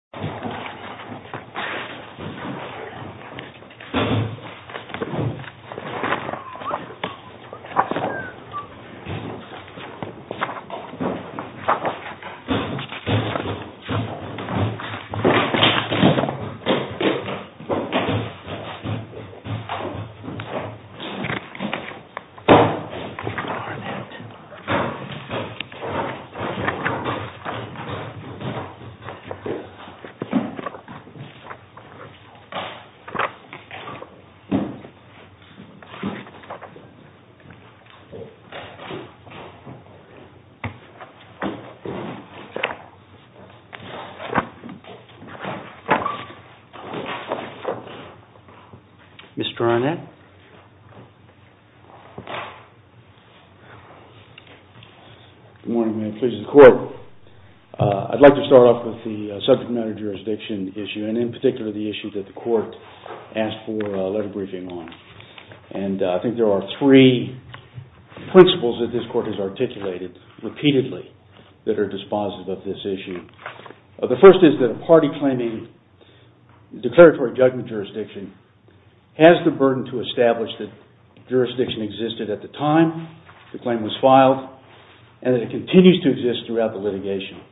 Hybrid Servicing, Inc. Good morning, and his case in court. I'd like to start off with the subject matter jurisdiction issue, and in particular the issue that the court asked for a letter briefing on. And I think there are three principles that this court has articulated repeatedly that are dispositive of this issue. The first is that a party claiming declaratory judgment jurisdiction has the burden to establish that jurisdiction existed at the time the claim was filed and that it continues to exist throughout the litigation.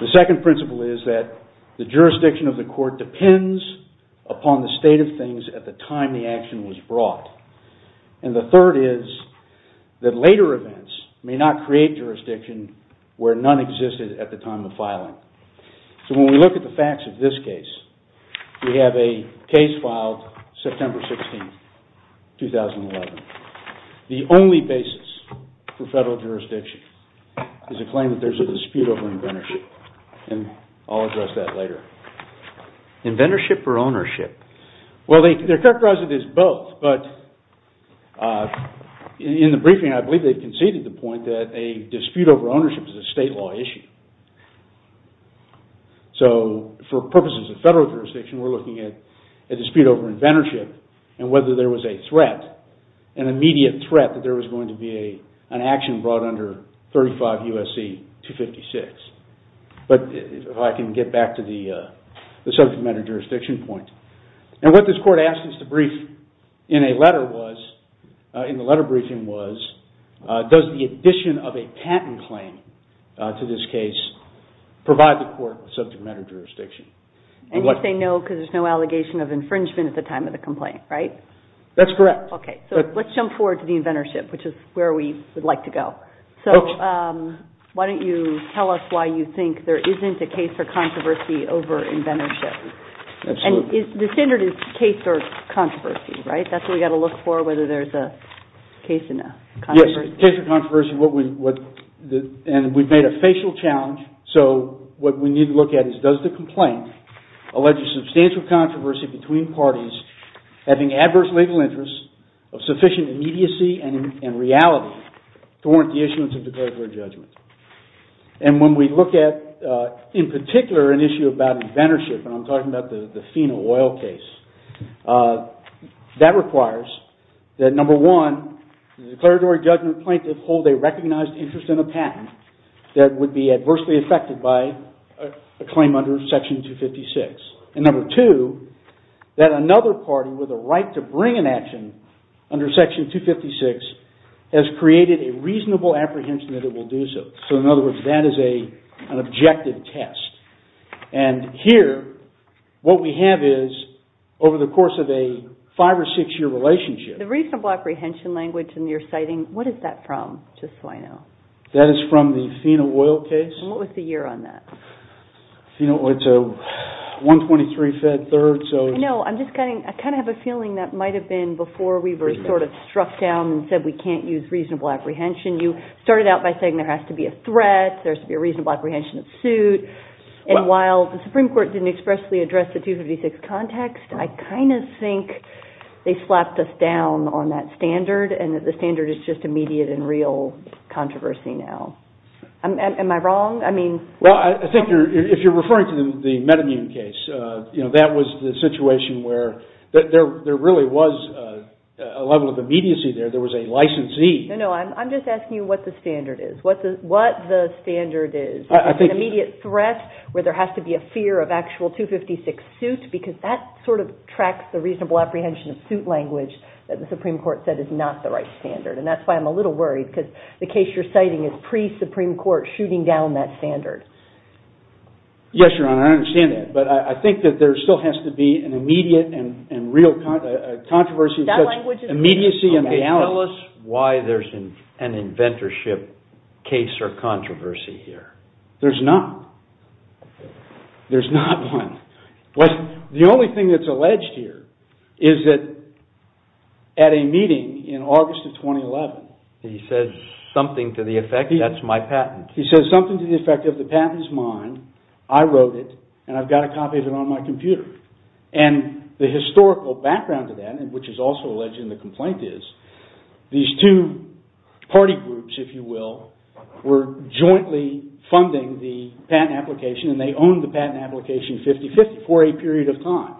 The second principle is that the jurisdiction of the court depends upon the state of things at the time the action was brought. And the third is that later events may not create jurisdiction where none existed at the time of filing. So when we look at the facts of this case, we have a case filed September 16, 2011. The only basis for federal jurisdiction is a claim that there's a dispute over inventorship, and I'll address that later. Inventorship or ownership? Well, they're characterized as both, but in the briefing I believe they conceded the point that a dispute over ownership is a state law issue. So for purposes of federal jurisdiction, we're looking at a dispute over inventorship and whether there was a threat, an immediate threat that there was going to be an action brought under 35 U.S.C. 256. But if I can get back to the subject matter jurisdiction point. And what this court asked us to brief in a letter was, in the letter briefing was, does the addition of a patent claim to this case provide the court with subject matter jurisdiction? And you say no because there's no allegation of infringement at the time of the complaint, right? That's correct. Okay. So let's jump forward to the inventorship, which is where we would like to go. Okay. So why don't you tell us why you think there isn't a case for controversy over inventorship? Absolutely. And the standard is case or controversy, right? That's what we've got to look for, whether there's a case in a controversy. Yes, case or controversy. And we've made a facial challenge, so what we need to look at is does the complaint allege substantial controversy between parties having adverse legal interests of sufficient immediacy and reality to warrant the issuance of declaratory judgment. And when we look at, in particular, an issue about inventorship, and I'm talking about the FINA oil case, that requires that, number one, the declaratory judgment plaintiff hold a recognized interest in a patent that would be adversely affected by a claim under Section 256. And number two, that another party with a right to bring an action under Section 256 has created a reasonable apprehension that it will do so. So in other words, that is an objective test. And here, what we have is, over the course of a five or six-year relationship- The reasonable apprehension language in your citing, what is that from, just so I know? That is from the FINA oil case. And what was the year on that? You know, it's a 123 Fed third, so- No, I'm just kind of, I kind of have a feeling that might have been before we were sort of struck down and said we can't use reasonable apprehension. You started out by saying there has to be a threat, there has to be a reasonable apprehension that's sued. And while the Supreme Court didn't expressly address the 256 context, I kind of think they slapped us down on that standard, and that the standard is just immediate and real controversy now. Am I wrong? I mean- Well, I think if you're referring to the metamutant case, that was the situation where there really was a level of immediacy there. There was a licensee- No, no, I'm just asking you what the standard is. What the standard is. I think- An immediate threat, where there has to be a fear of actual 256 suit, because that sort of tracks the reasonable apprehension of suit language that the Supreme Court said is not the right standard. And that's why I'm a little worried, because the case you're citing is pre-Supreme Court shooting down that standard. Yes, Your Honor, I understand that. But I think that there still has to be an immediate and real controversy- That language is- Okay, tell us why there's an inventorship case or controversy here. There's not. There's not one. The only thing that's alleged here is that at a meeting in August of 2011, he said something to the effect, that's my patent. He said something to the effect of the patent is mine, I wrote it, and I've got a copy of it on my computer. And the historical background to that, which is also alleged in the complaint, is these two party groups, if you will, were jointly funding the patent application, and they owned the patent application 50-50 for a period of time.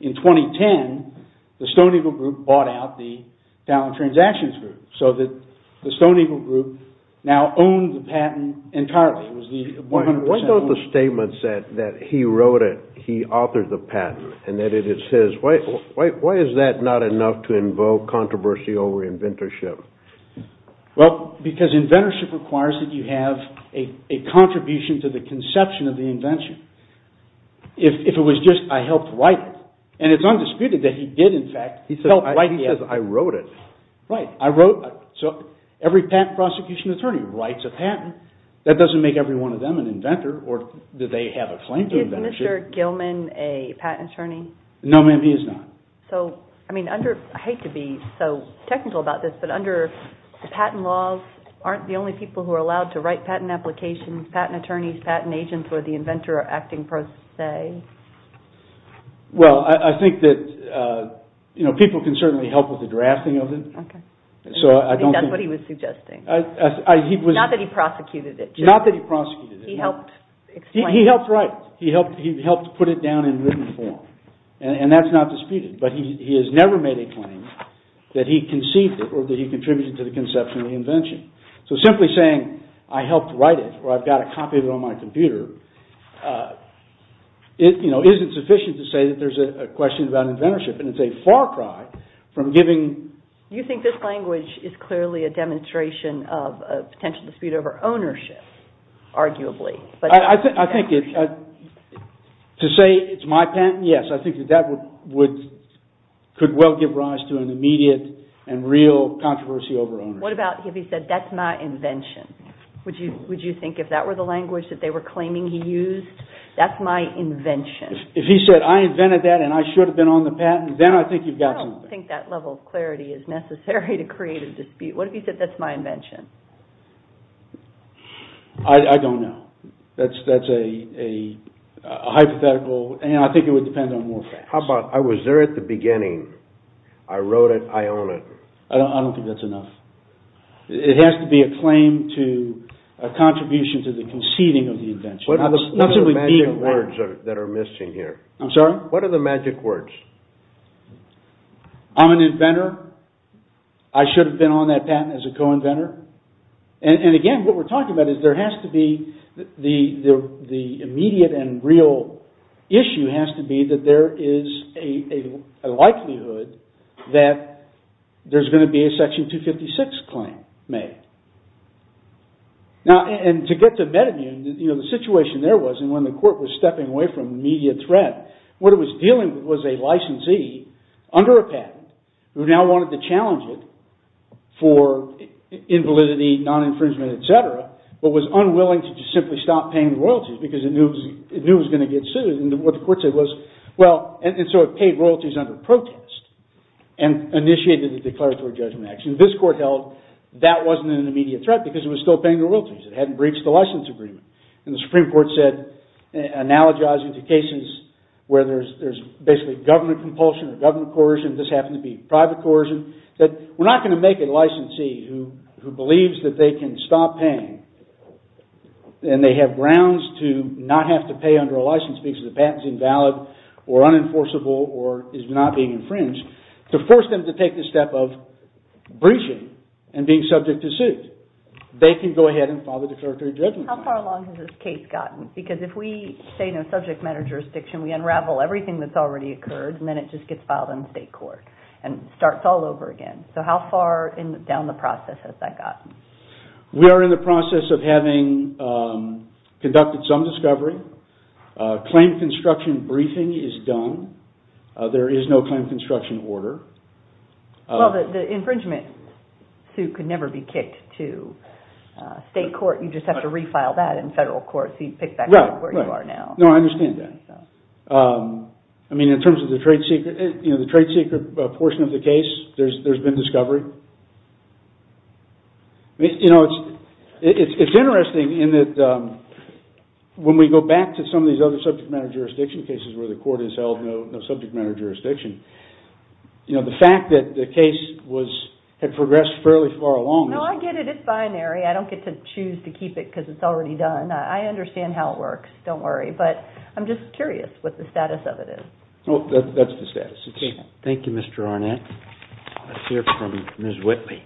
In 2010, the Stone Eagle Group bought out the Talent Transactions Group, so that the patent entirely was the 100% ownership. Why don't the statements that he wrote it, he authored the patent, and that it is his, why is that not enough to invoke controversy over inventorship? Well, because inventorship requires that you have a contribution to the conception of the invention. If it was just, I helped write it, and it's undisputed that he did in fact help write the evidence. He says, I wrote it. Right, I wrote it. So, every patent prosecution attorney writes a patent. That doesn't make every one of them an inventor, or that they have a claim to inventorship. Is Mr. Gilman a patent attorney? No ma'am, he is not. So, I mean, I hate to be so technical about this, but under patent laws, aren't the only people who are allowed to write patent applications, patent attorneys, patent agents, or the inventor acting per se? Well, I think that people can certainly help with the drafting of it. So, I don't think... That's what he was suggesting. Not that he prosecuted it. Not that he prosecuted it. He helped explain it. He helped write it. He helped put it down in written form. And that's not disputed. But he has never made a claim that he conceived it, or that he contributed to the conception of the invention. So, simply saying, I helped write it, or I've got a copy of it on my computer, you know, isn't sufficient to say that there's a question about inventorship. I think it's a far cry. I think it's a far cry. I think it's a far cry. I think it's a far cry. I think this language is clearly a demonstration of a potential dispute over ownership, arguably. But... I think it's... To say it's my patent? Yes. I think that that would... Could well give rise to an immediate and real controversy over ownership. What about if he said, that's my invention? Would you think if that were the language that they were claiming he used? That's my invention. If he said, I invented that and I should have been on the patent, then I think you've got I think it's a far cry. I think it's a far cry. I think it's a far cry. I think it's a far cry. What if he said, let's try to make this fair and it will create a dispute? What if he said, that's my invention? Ah, I don't know. Ah, I don't know. That's... That's a... A hypothetical. That's a... That's a... That's a hypothetical. And I think it would depend on more facts. How about there at the beginning. I wrote it. It has to be a claim to a contribution to the conceding of the invention, not simply being... What are the magic words that are missing here? I'm sorry? I'm sorry? What are the magic words? I'm an inventor. I should have been on that patent as a co-inventor. And again, what we're talking about is there has to be the immediate and real issue has to be that there is a likelihood that there's going to be a Section 256 claim made. And to get to MedImmune, the situation there was, and when the court was stepping away from immediate threat, what it was dealing with was a licensee under a patent who now wanted to challenge it for invalidity, non-infringement, et cetera, but was unwilling to just simply stop paying royalties because it knew it was going to get sued. And what the court said was, well, and so it paid royalties under protest and initiated a declaratory judgment action. This court held that wasn't an immediate threat because it was still paying royalties. It hadn't breached the license agreement. And the Supreme Court said, analogizing to cases where there's basically government compulsion or government coercion, this happened to be private coercion, said, we're not going to make a licensee who believes that they can stop paying and they have grounds to not have to pay under a license because the patent's invalid or unenforceable or is not being infringed to force them to take the step of breaching and being subject to suit. They can go ahead and file a declaratory judgment. How far along has this case gotten? Because if we say no subject matter jurisdiction, we unravel everything that's already occurred and then it just gets filed in state court and starts all over again. So how far down the process has that gotten? We are in the process of having conducted some discovery. Claim construction briefing is done. There is no claim construction order. Well, the infringement suit could never be kicked to state court. You just have to refile that in federal court so you can pick back up where you are now. Right, right. No, I understand that. I mean, in terms of the trade secret portion of the case, there's been discovery. You know, it's interesting in that when we go back to some of these other subject matter jurisdiction cases where the court has held no subject matter jurisdiction, the fact that the case had progressed fairly far along... No, I get it. It's binary. I don't get to choose to keep it because it's already done. I understand how it works. Don't worry. I'm just curious what the status of it is. That's the status. Thank you, Mr. Arnett. Let's hear from Ms. Whitley.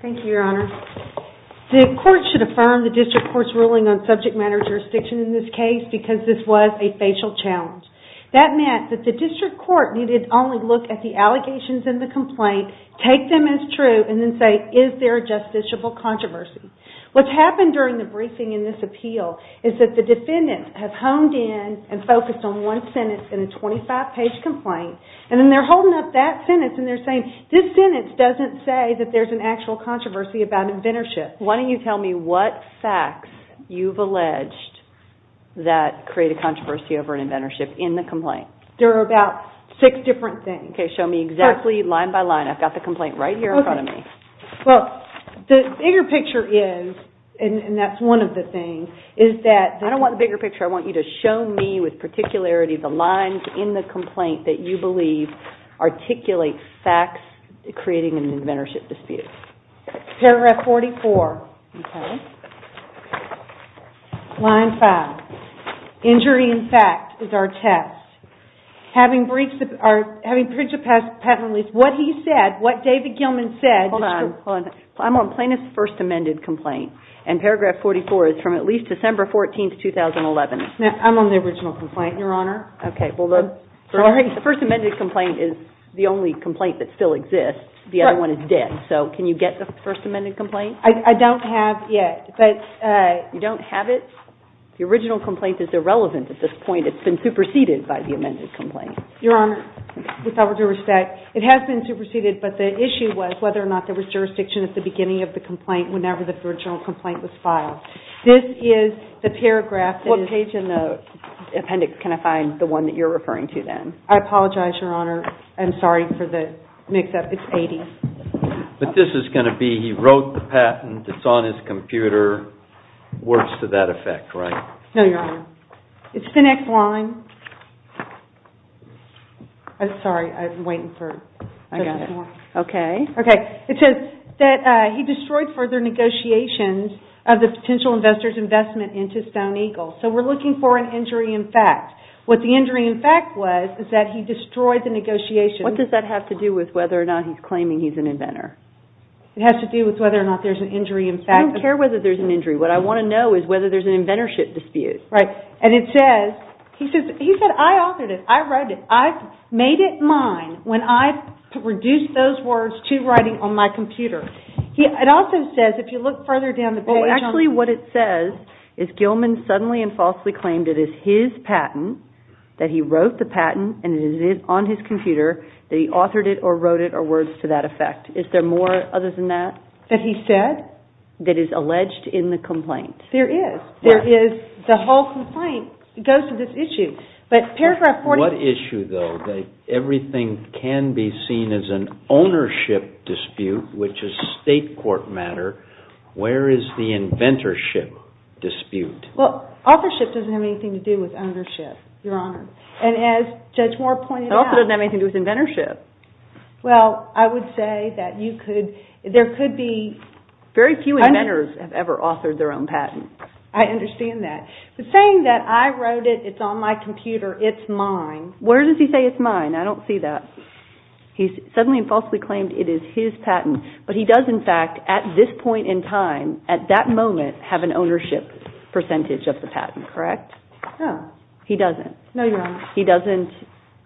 Thank you, Your Honor. The court should affirm the district court's ruling on subject matter jurisdiction in this case because this was a facial challenge. That meant that the district court needed to only look at the allegations in the complaint, take them as true, and then say, is there a justiciable controversy? What's happened during the briefing in this appeal is that the defendants have honed in and focused on one sentence in a 25-page complaint, and then they're holding up that sentence and they're saying, this sentence doesn't say that there's an actual controversy about inventorship. Why don't you tell me what facts you've alleged that create a controversy over an inventorship in the complaint? There are about six different things. Okay, show me exactly line by line. I've got the complaint right here in front of me. Well, the bigger picture is, and that's one of the things, is that... I don't want the bigger picture. I want you to show me with particularity the lines in the complaint that you believe articulate facts creating an inventorship dispute. Paragraph 44. Okay. Line five. Injury in fact is our test. Having briefed the... Having printed the patent release, what he said, what David Gilman said Hold on. I'm on plaintiff's first amended complaint, and paragraph 44 is from at least December 14th, 2011. I'm on the original complaint, Your Honor. Okay. Well, the first amended complaint is the only complaint that still exists. The other one is dead. So, can you get the first amended complaint? I don't have yet, but... You don't have it? The original complaint is irrelevant at this point. It's been superseded by the amended complaint. Your Honor, with all due respect, it has been superseded, but the issue was whether or not there was jurisdiction at the beginning of the complaint whenever the original complaint was filed. This is the paragraph that is... What page in the appendix can I find the one that you're referring to then? I apologize, Your Honor. I'm sorry for the mix up. It's 80. But this is going to be, he wrote the patent, it's on his computer, works to that effect, right? No, Your Honor. It's the next line. I'm sorry. I'm waiting for... I got it. Okay. Okay. It says that he destroyed further negotiations of the potential investor's investment into Stone Eagle. So, we're looking for an injury in fact. What the injury in fact was is that he destroyed the negotiations... What does that have to do with whether or not he's claiming he's an inventor? It has to do with whether or not there's an injury in fact. I don't care whether there's an injury. What I want to know is whether there's an inventorship dispute. Right. And it says, he said, I authored it. I wrote it. I've made it mine when I've produced those words to writing on my computer. It also says, if you look further down the page... Well, actually what it says is Gilman suddenly and falsely claimed it is his patent, that he wrote the patent, and it is on his computer, that he authored it or wrote it or works to that effect. Is there more other than that? That he said? That is alleged in the complaint. There is. There is. The whole complaint goes to this issue. But paragraph 40... On what issue, though, that everything can be seen as an ownership dispute, which is a state court matter, where is the inventorship dispute? Authorship doesn't have anything to do with ownership, Your Honor. And as Judge Moore pointed out... It also doesn't have anything to do with inventorship. Well, I would say that you could... there could be... Very few inventors have ever authored their own patent. I understand that. But saying that I wrote it, it's on my computer, it's mine... Where does he say it's mine? I don't see that. He's suddenly and falsely claimed it is his patent, but he does, in fact, at this point in time, at that moment, have an ownership percentage of the patent, correct? He doesn't. No, Your Honor. He doesn't.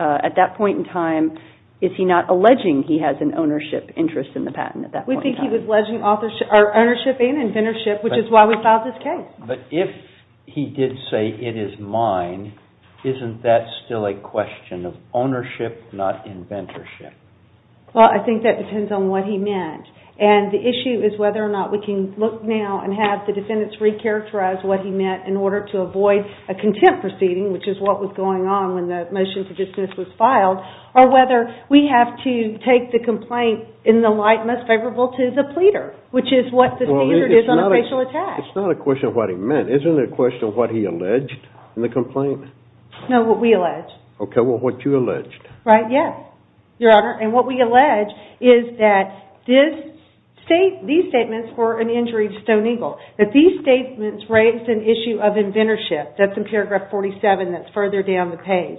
At that point in time, is he not alleging he has an ownership interest in the patent at that point in time? We think he was alleging ownership and inventorship, which is why we filed this case. But if he did say it is mine, isn't that still a question of ownership, not inventorship? Well, I think that depends on what he meant. And the issue is whether or not we can look now and have the defendants re-characterize what he meant in order to avoid a contempt proceeding, which is what was going on when the motion for dismissal was filed, or whether we have to take the complaint in the light most favorable to the pleader, which is what the seizure does on a facial attack. It's not a question of what he meant. Isn't it a question of what he alleged in the complaint? No, what we alleged. Okay, well, what you alleged. Right, yes, Your Honor. And what we allege is that these statements were an injury to Stone Eagle, that these statements raised an issue of inventorship, that's in paragraph 47 that's further down the page,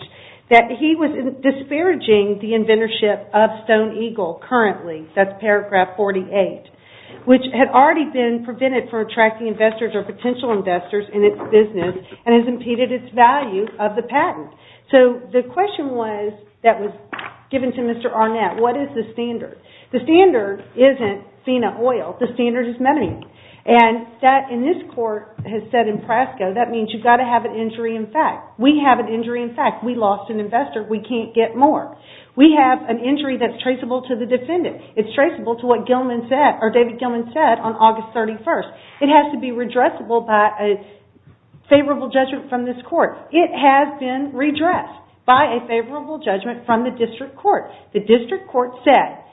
that he was disparaging the inventorship of Stone Eagle currently, that's paragraph 48, which had already been prevented for attracting investors or potential investors in its business and has impeded its value of the patent. So the question was, that was given to Mr. Arnett, what is the standard? The standard isn't FINA oil, the standard is metamine. And that, in this court, has said in PRASCO, that means you've got to have an injury in fact. We have an injury in fact. We lost an investor. We can't get more. We have an injury that's traceable to the defendant. It's traceable to what David Gilman said on August 31st. It has to be redressable by a favorable judgment from this court. It has been redressed by a favorable judgment from the district court. The district court said,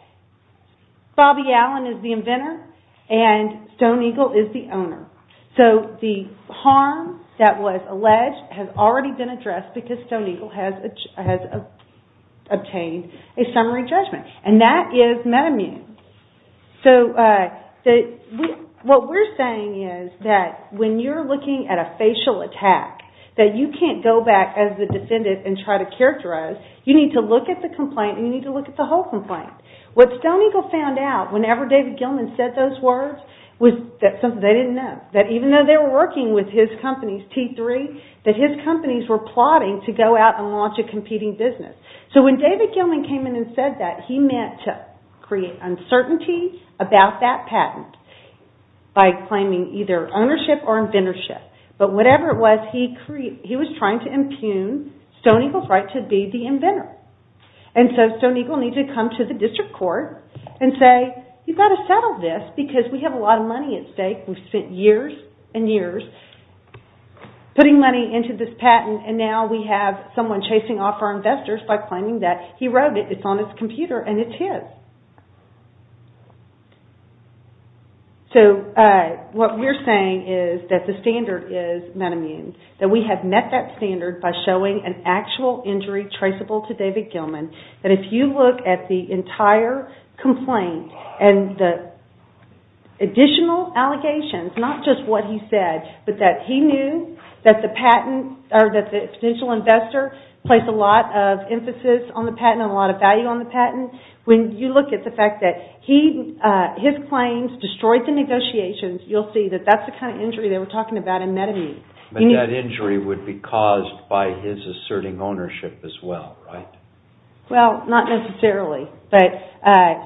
Bobby Allen is the inventor and Stone Eagle is the owner. So the harm that was alleged has already been addressed because Stone Eagle has obtained a summary judgment. And that is metamine. So what we're saying is that when you're looking at a facial attack, that you can't go back as the defendant and try to characterize, you need to look at the complaint and you need to look at the whole complaint. What Stone Eagle found out, whenever David Gilman said those words, was that something they didn't know. That even though they were working with his companies, T3, that his companies were plotting to go out and launch a competing business. So when David Gilman came in and said that, he meant to create uncertainty about that patent by claiming either ownership or inventorship. But whatever it was, he was trying to impugn Stone Eagle's right to be the inventor. And so Stone Eagle needs to come to the district court and say, you've got to settle this because we have a lot of money at stake. We've spent years and years putting money into this patent and now we have someone chasing off our investors by claiming that he wrote it, it's on his computer, and it's his. So what we're saying is that the standard is metamine, that we have met that standard by showing an actual injury traceable to David Gilman, that if you look at the entire complaint and the additional allegations, not just what he said, but that he knew that the patent or that the potential investor placed a lot of emphasis on the patent and a lot of value on the patent, when you look at the fact that his claims destroyed the negotiations, you'll see that that's the kind of injury they were talking about in metamine. But that injury would be caused by his asserting ownership as well, right? Well, not necessarily, but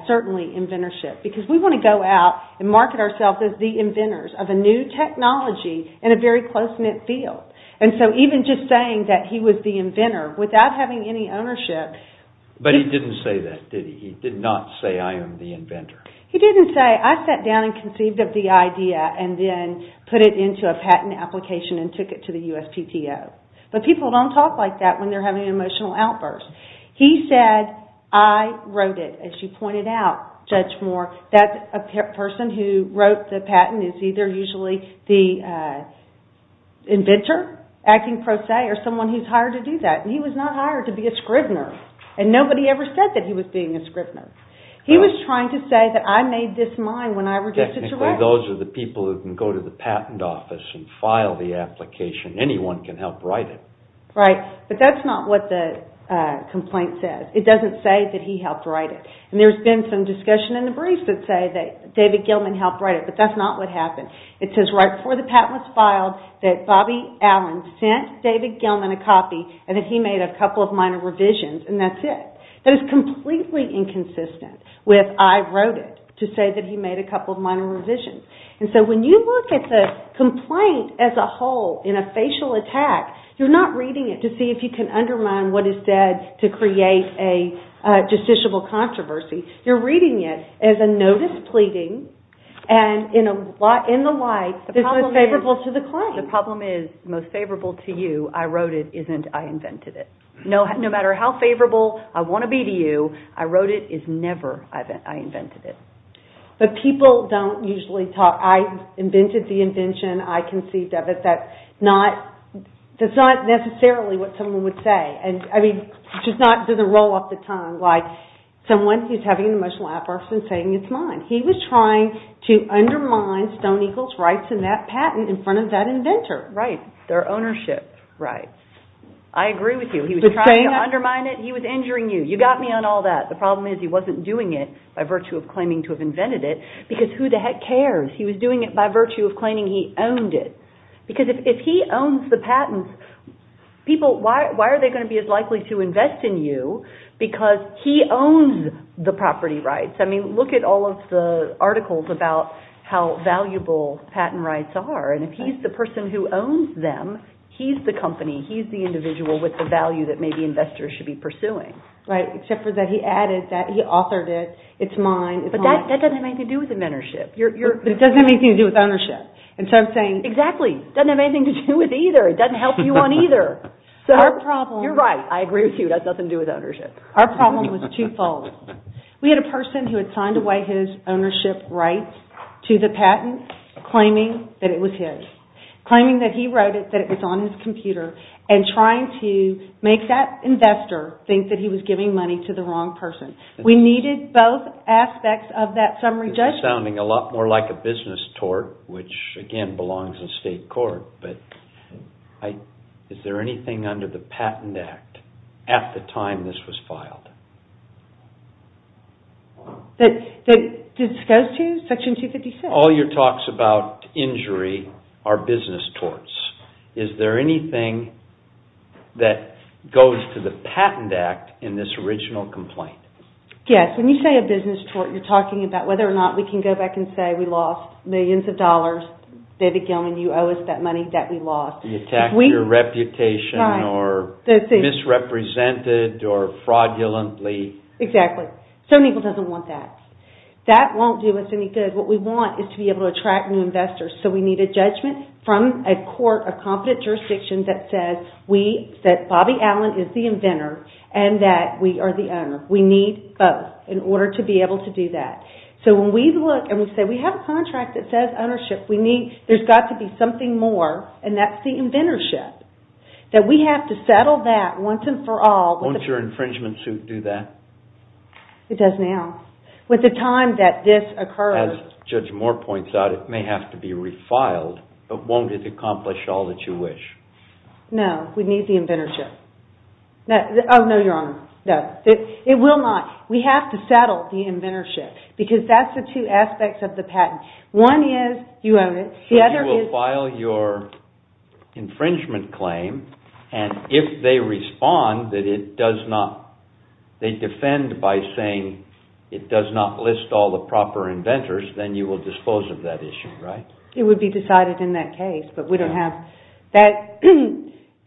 certainly inventorship. Because we want to go out and market ourselves as the inventors of a new technology in a very close-knit field. And so even just saying that he was the inventor, without having any ownership... But he didn't say that, did he? He did not say, I am the inventor. He didn't say, I sat down and conceived of the idea and then put it into a patent application and took it to the USPTO. But people don't talk like that when they're having emotional outbursts. He said, I wrote it, as you pointed out, Judge Moore, that a person who wrote the patent is either usually the inventor, acting pro se, or someone who's hired to do that. And he was not hired to be a scrivener. And nobody ever said that he was being a scrivener. He was trying to say that I made this mine when I reduced it to rubble. Technically, those are the people who can go to the patent office and file the application. Anyone can help write it. Right. But that's not what the complaint says. It doesn't say that he helped write it. And there's been some discussion in the briefs that say that David Gilman helped write it. But that's not what happened. It says right before the patent was filed that Bobby Allen sent David Gilman a copy and that he made a couple of minor revisions. And that's it. That is completely inconsistent with, I wrote it, to say that he made a couple of minor revisions. And so when you look at the complaint as a whole in a facial attack, you're not reading it to see if you can undermine what is said to create a justiciable controversy. You're reading it as a notice pleading and in the light that's most favorable to the claim. The problem is most favorable to you, I wrote it, isn't I invented it. No matter how favorable I want to be to you, I wrote it is never I invented it. But people don't usually talk, I invented the invention, I conceived of it, that's not necessarily what someone would say. I mean, it's just not, it doesn't roll off the tongue. Like someone who's having an emotional outburst and saying it's mine. He was trying to undermine Stone Eagle's rights in that patent in front of that inventor. Right. Their ownership. Right. I agree with you. He was trying to undermine it. He was injuring you. You got me on all that. The problem is he wasn't doing it by virtue of claiming to have invented it because who the heck cares? He was doing it by virtue of claiming he owned it. Because if he owns the patents, people, why are they going to be as likely to invest in you because he owns the property rights? I mean, look at all of the articles about how valuable patent rights are. And if he's the person who owns them, he's the company, he's the individual with the value that maybe investors should be pursuing. Right. Except for that he added that he authored it, it's mine. But that doesn't make anything do with inventorship. It doesn't make anything do with ownership. And so I'm saying. Exactly. It doesn't have anything to do with either. It doesn't help you on either. So. Our problem. You're right. I agree with you. That doesn't do with ownership. Our problem was twofold. We had a person who had signed away his ownership rights to the patent claiming that it was his, claiming that he wrote it, that it was on his computer and trying to make that investor think that he was giving money to the wrong person. We needed both aspects of that summary judgment. That's sounding a lot more like a business tort, which, again, belongs in state court. But is there anything under the Patent Act at the time this was filed? That goes to Section 256? All your talks about injury are business torts. Is there anything that goes to the Patent Act in this original complaint? Yes. When you say a business tort, you're talking about whether or not we can go back and say we lost millions of dollars. David Gilman, you owe us that money that we lost. You attacked your reputation or misrepresented or fraudulently. Exactly. So Neagle doesn't want that. That won't do us any good. What we want is to be able to attract new investors. So we need a judgment from a court, a competent jurisdiction that says we, that Bobby Allen is the inventor and that we are the owner. We need both. In order to be able to do that. So when we look and we say we have a contract that says ownership, we need, there's got to be something more and that's the inventorship. That we have to settle that once and for all. Won't your infringement suit do that? It does now. With the time that this occurs. As Judge Moore points out, it may have to be refiled, but won't it accomplish all that you wish? No. We need the inventorship. Oh, no, Your Honor. No. It will not. We have to settle the inventorship because that's the two aspects of the patent. One is you own it. The other is. So you will file your infringement claim and if they respond that it does not, they defend by saying it does not list all the proper inventors, then you will dispose of that issue, right? It would be decided in that case, but we don't have that.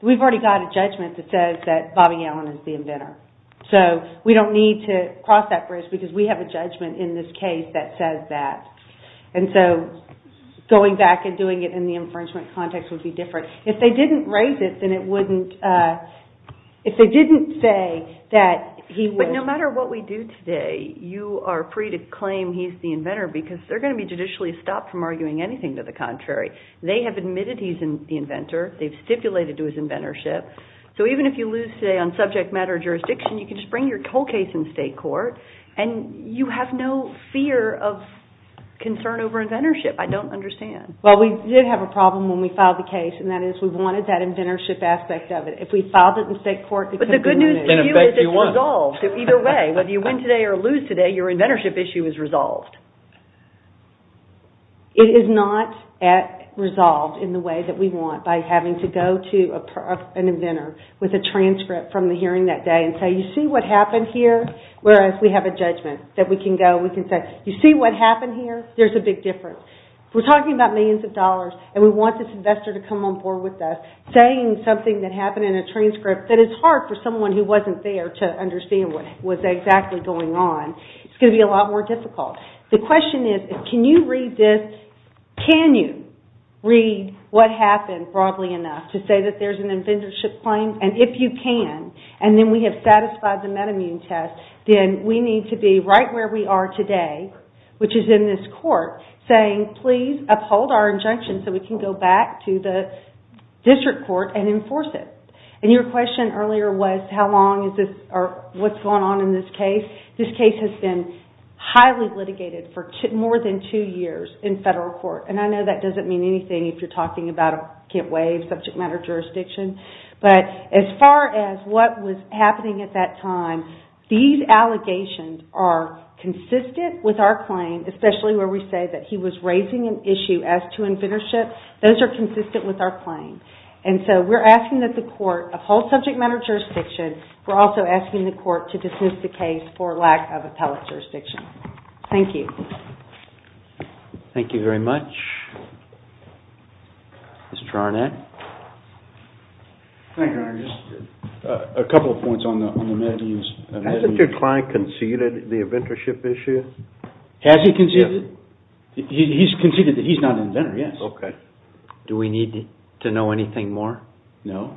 We've already got a judgment that says that Bobby Allen is the inventor. So we don't need to cross that bridge because we have a judgment in this case that says that. And so going back and doing it in the infringement context would be different. If they didn't raise it, then it wouldn't. If they didn't say that he was. But no matter what we do today, you are free to claim he's the inventor because they're going to be judicially stopped from arguing anything to the contrary. They have admitted he's the inventor. They've stipulated to his inventorship. So even if you lose today on subject matter jurisdiction, you can just bring your whole case in state court and you have no fear of concern over inventorship. I don't understand. Well, we did have a problem when we filed the case and that is we wanted that inventorship aspect of it. If we filed it in state court, it could be removed. But the good news to you is it's resolved. Either way, whether you win today or lose today, your inventorship issue is resolved. It is not resolved in the way that we want by having to go to an inventor with a transcript from the hearing that day and say, you see what happened here? Whereas we have a judgment that we can go, we can say, you see what happened here? There's a big difference. If we're talking about millions of dollars and we want this investor to come on board with us, saying something that happened in a transcript that is hard for someone who wasn't there to understand what was exactly going on, it's going to be a lot more difficult. The question is, can you read this? Can you read what happened broadly enough to say that there's an inventorship claim? And if you can, and then we have satisfied the metamune test, then we need to be right where we are today, which is in this court, saying, please uphold our injunction so we can go back to the district court and enforce it. And your question earlier was how long is this or what's going on in this case? This case has been highly litigated for more than two years in federal court. And I know that doesn't mean anything if you're talking about a can't waive subject matter jurisdiction. But as far as what was happening at that time, these allegations are consistent with our claim, especially where we say that he was raising an issue as to inventorship. Those are consistent with our claim. And so we're asking that the court uphold subject matter jurisdiction. We're also asking the court to dismiss the case for lack of appellate jurisdiction. Thank you. Thank you very much. Mr. Arnett? Thank you, Your Honor. Just a couple of points on the metamunes. Hasn't your client conceded the inventorship issue? Has he conceded? He's conceded that he's not an inventor, yes. OK. Do we need to know anything more? No.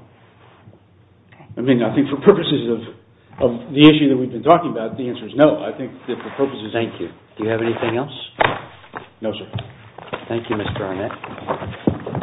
OK. I mean, I think for purposes of the issue that we've been talking about, the answer is no. I think that for purposes of... Thank you. Do you have anything else? No, sir. Thank you, Mr. Arnett.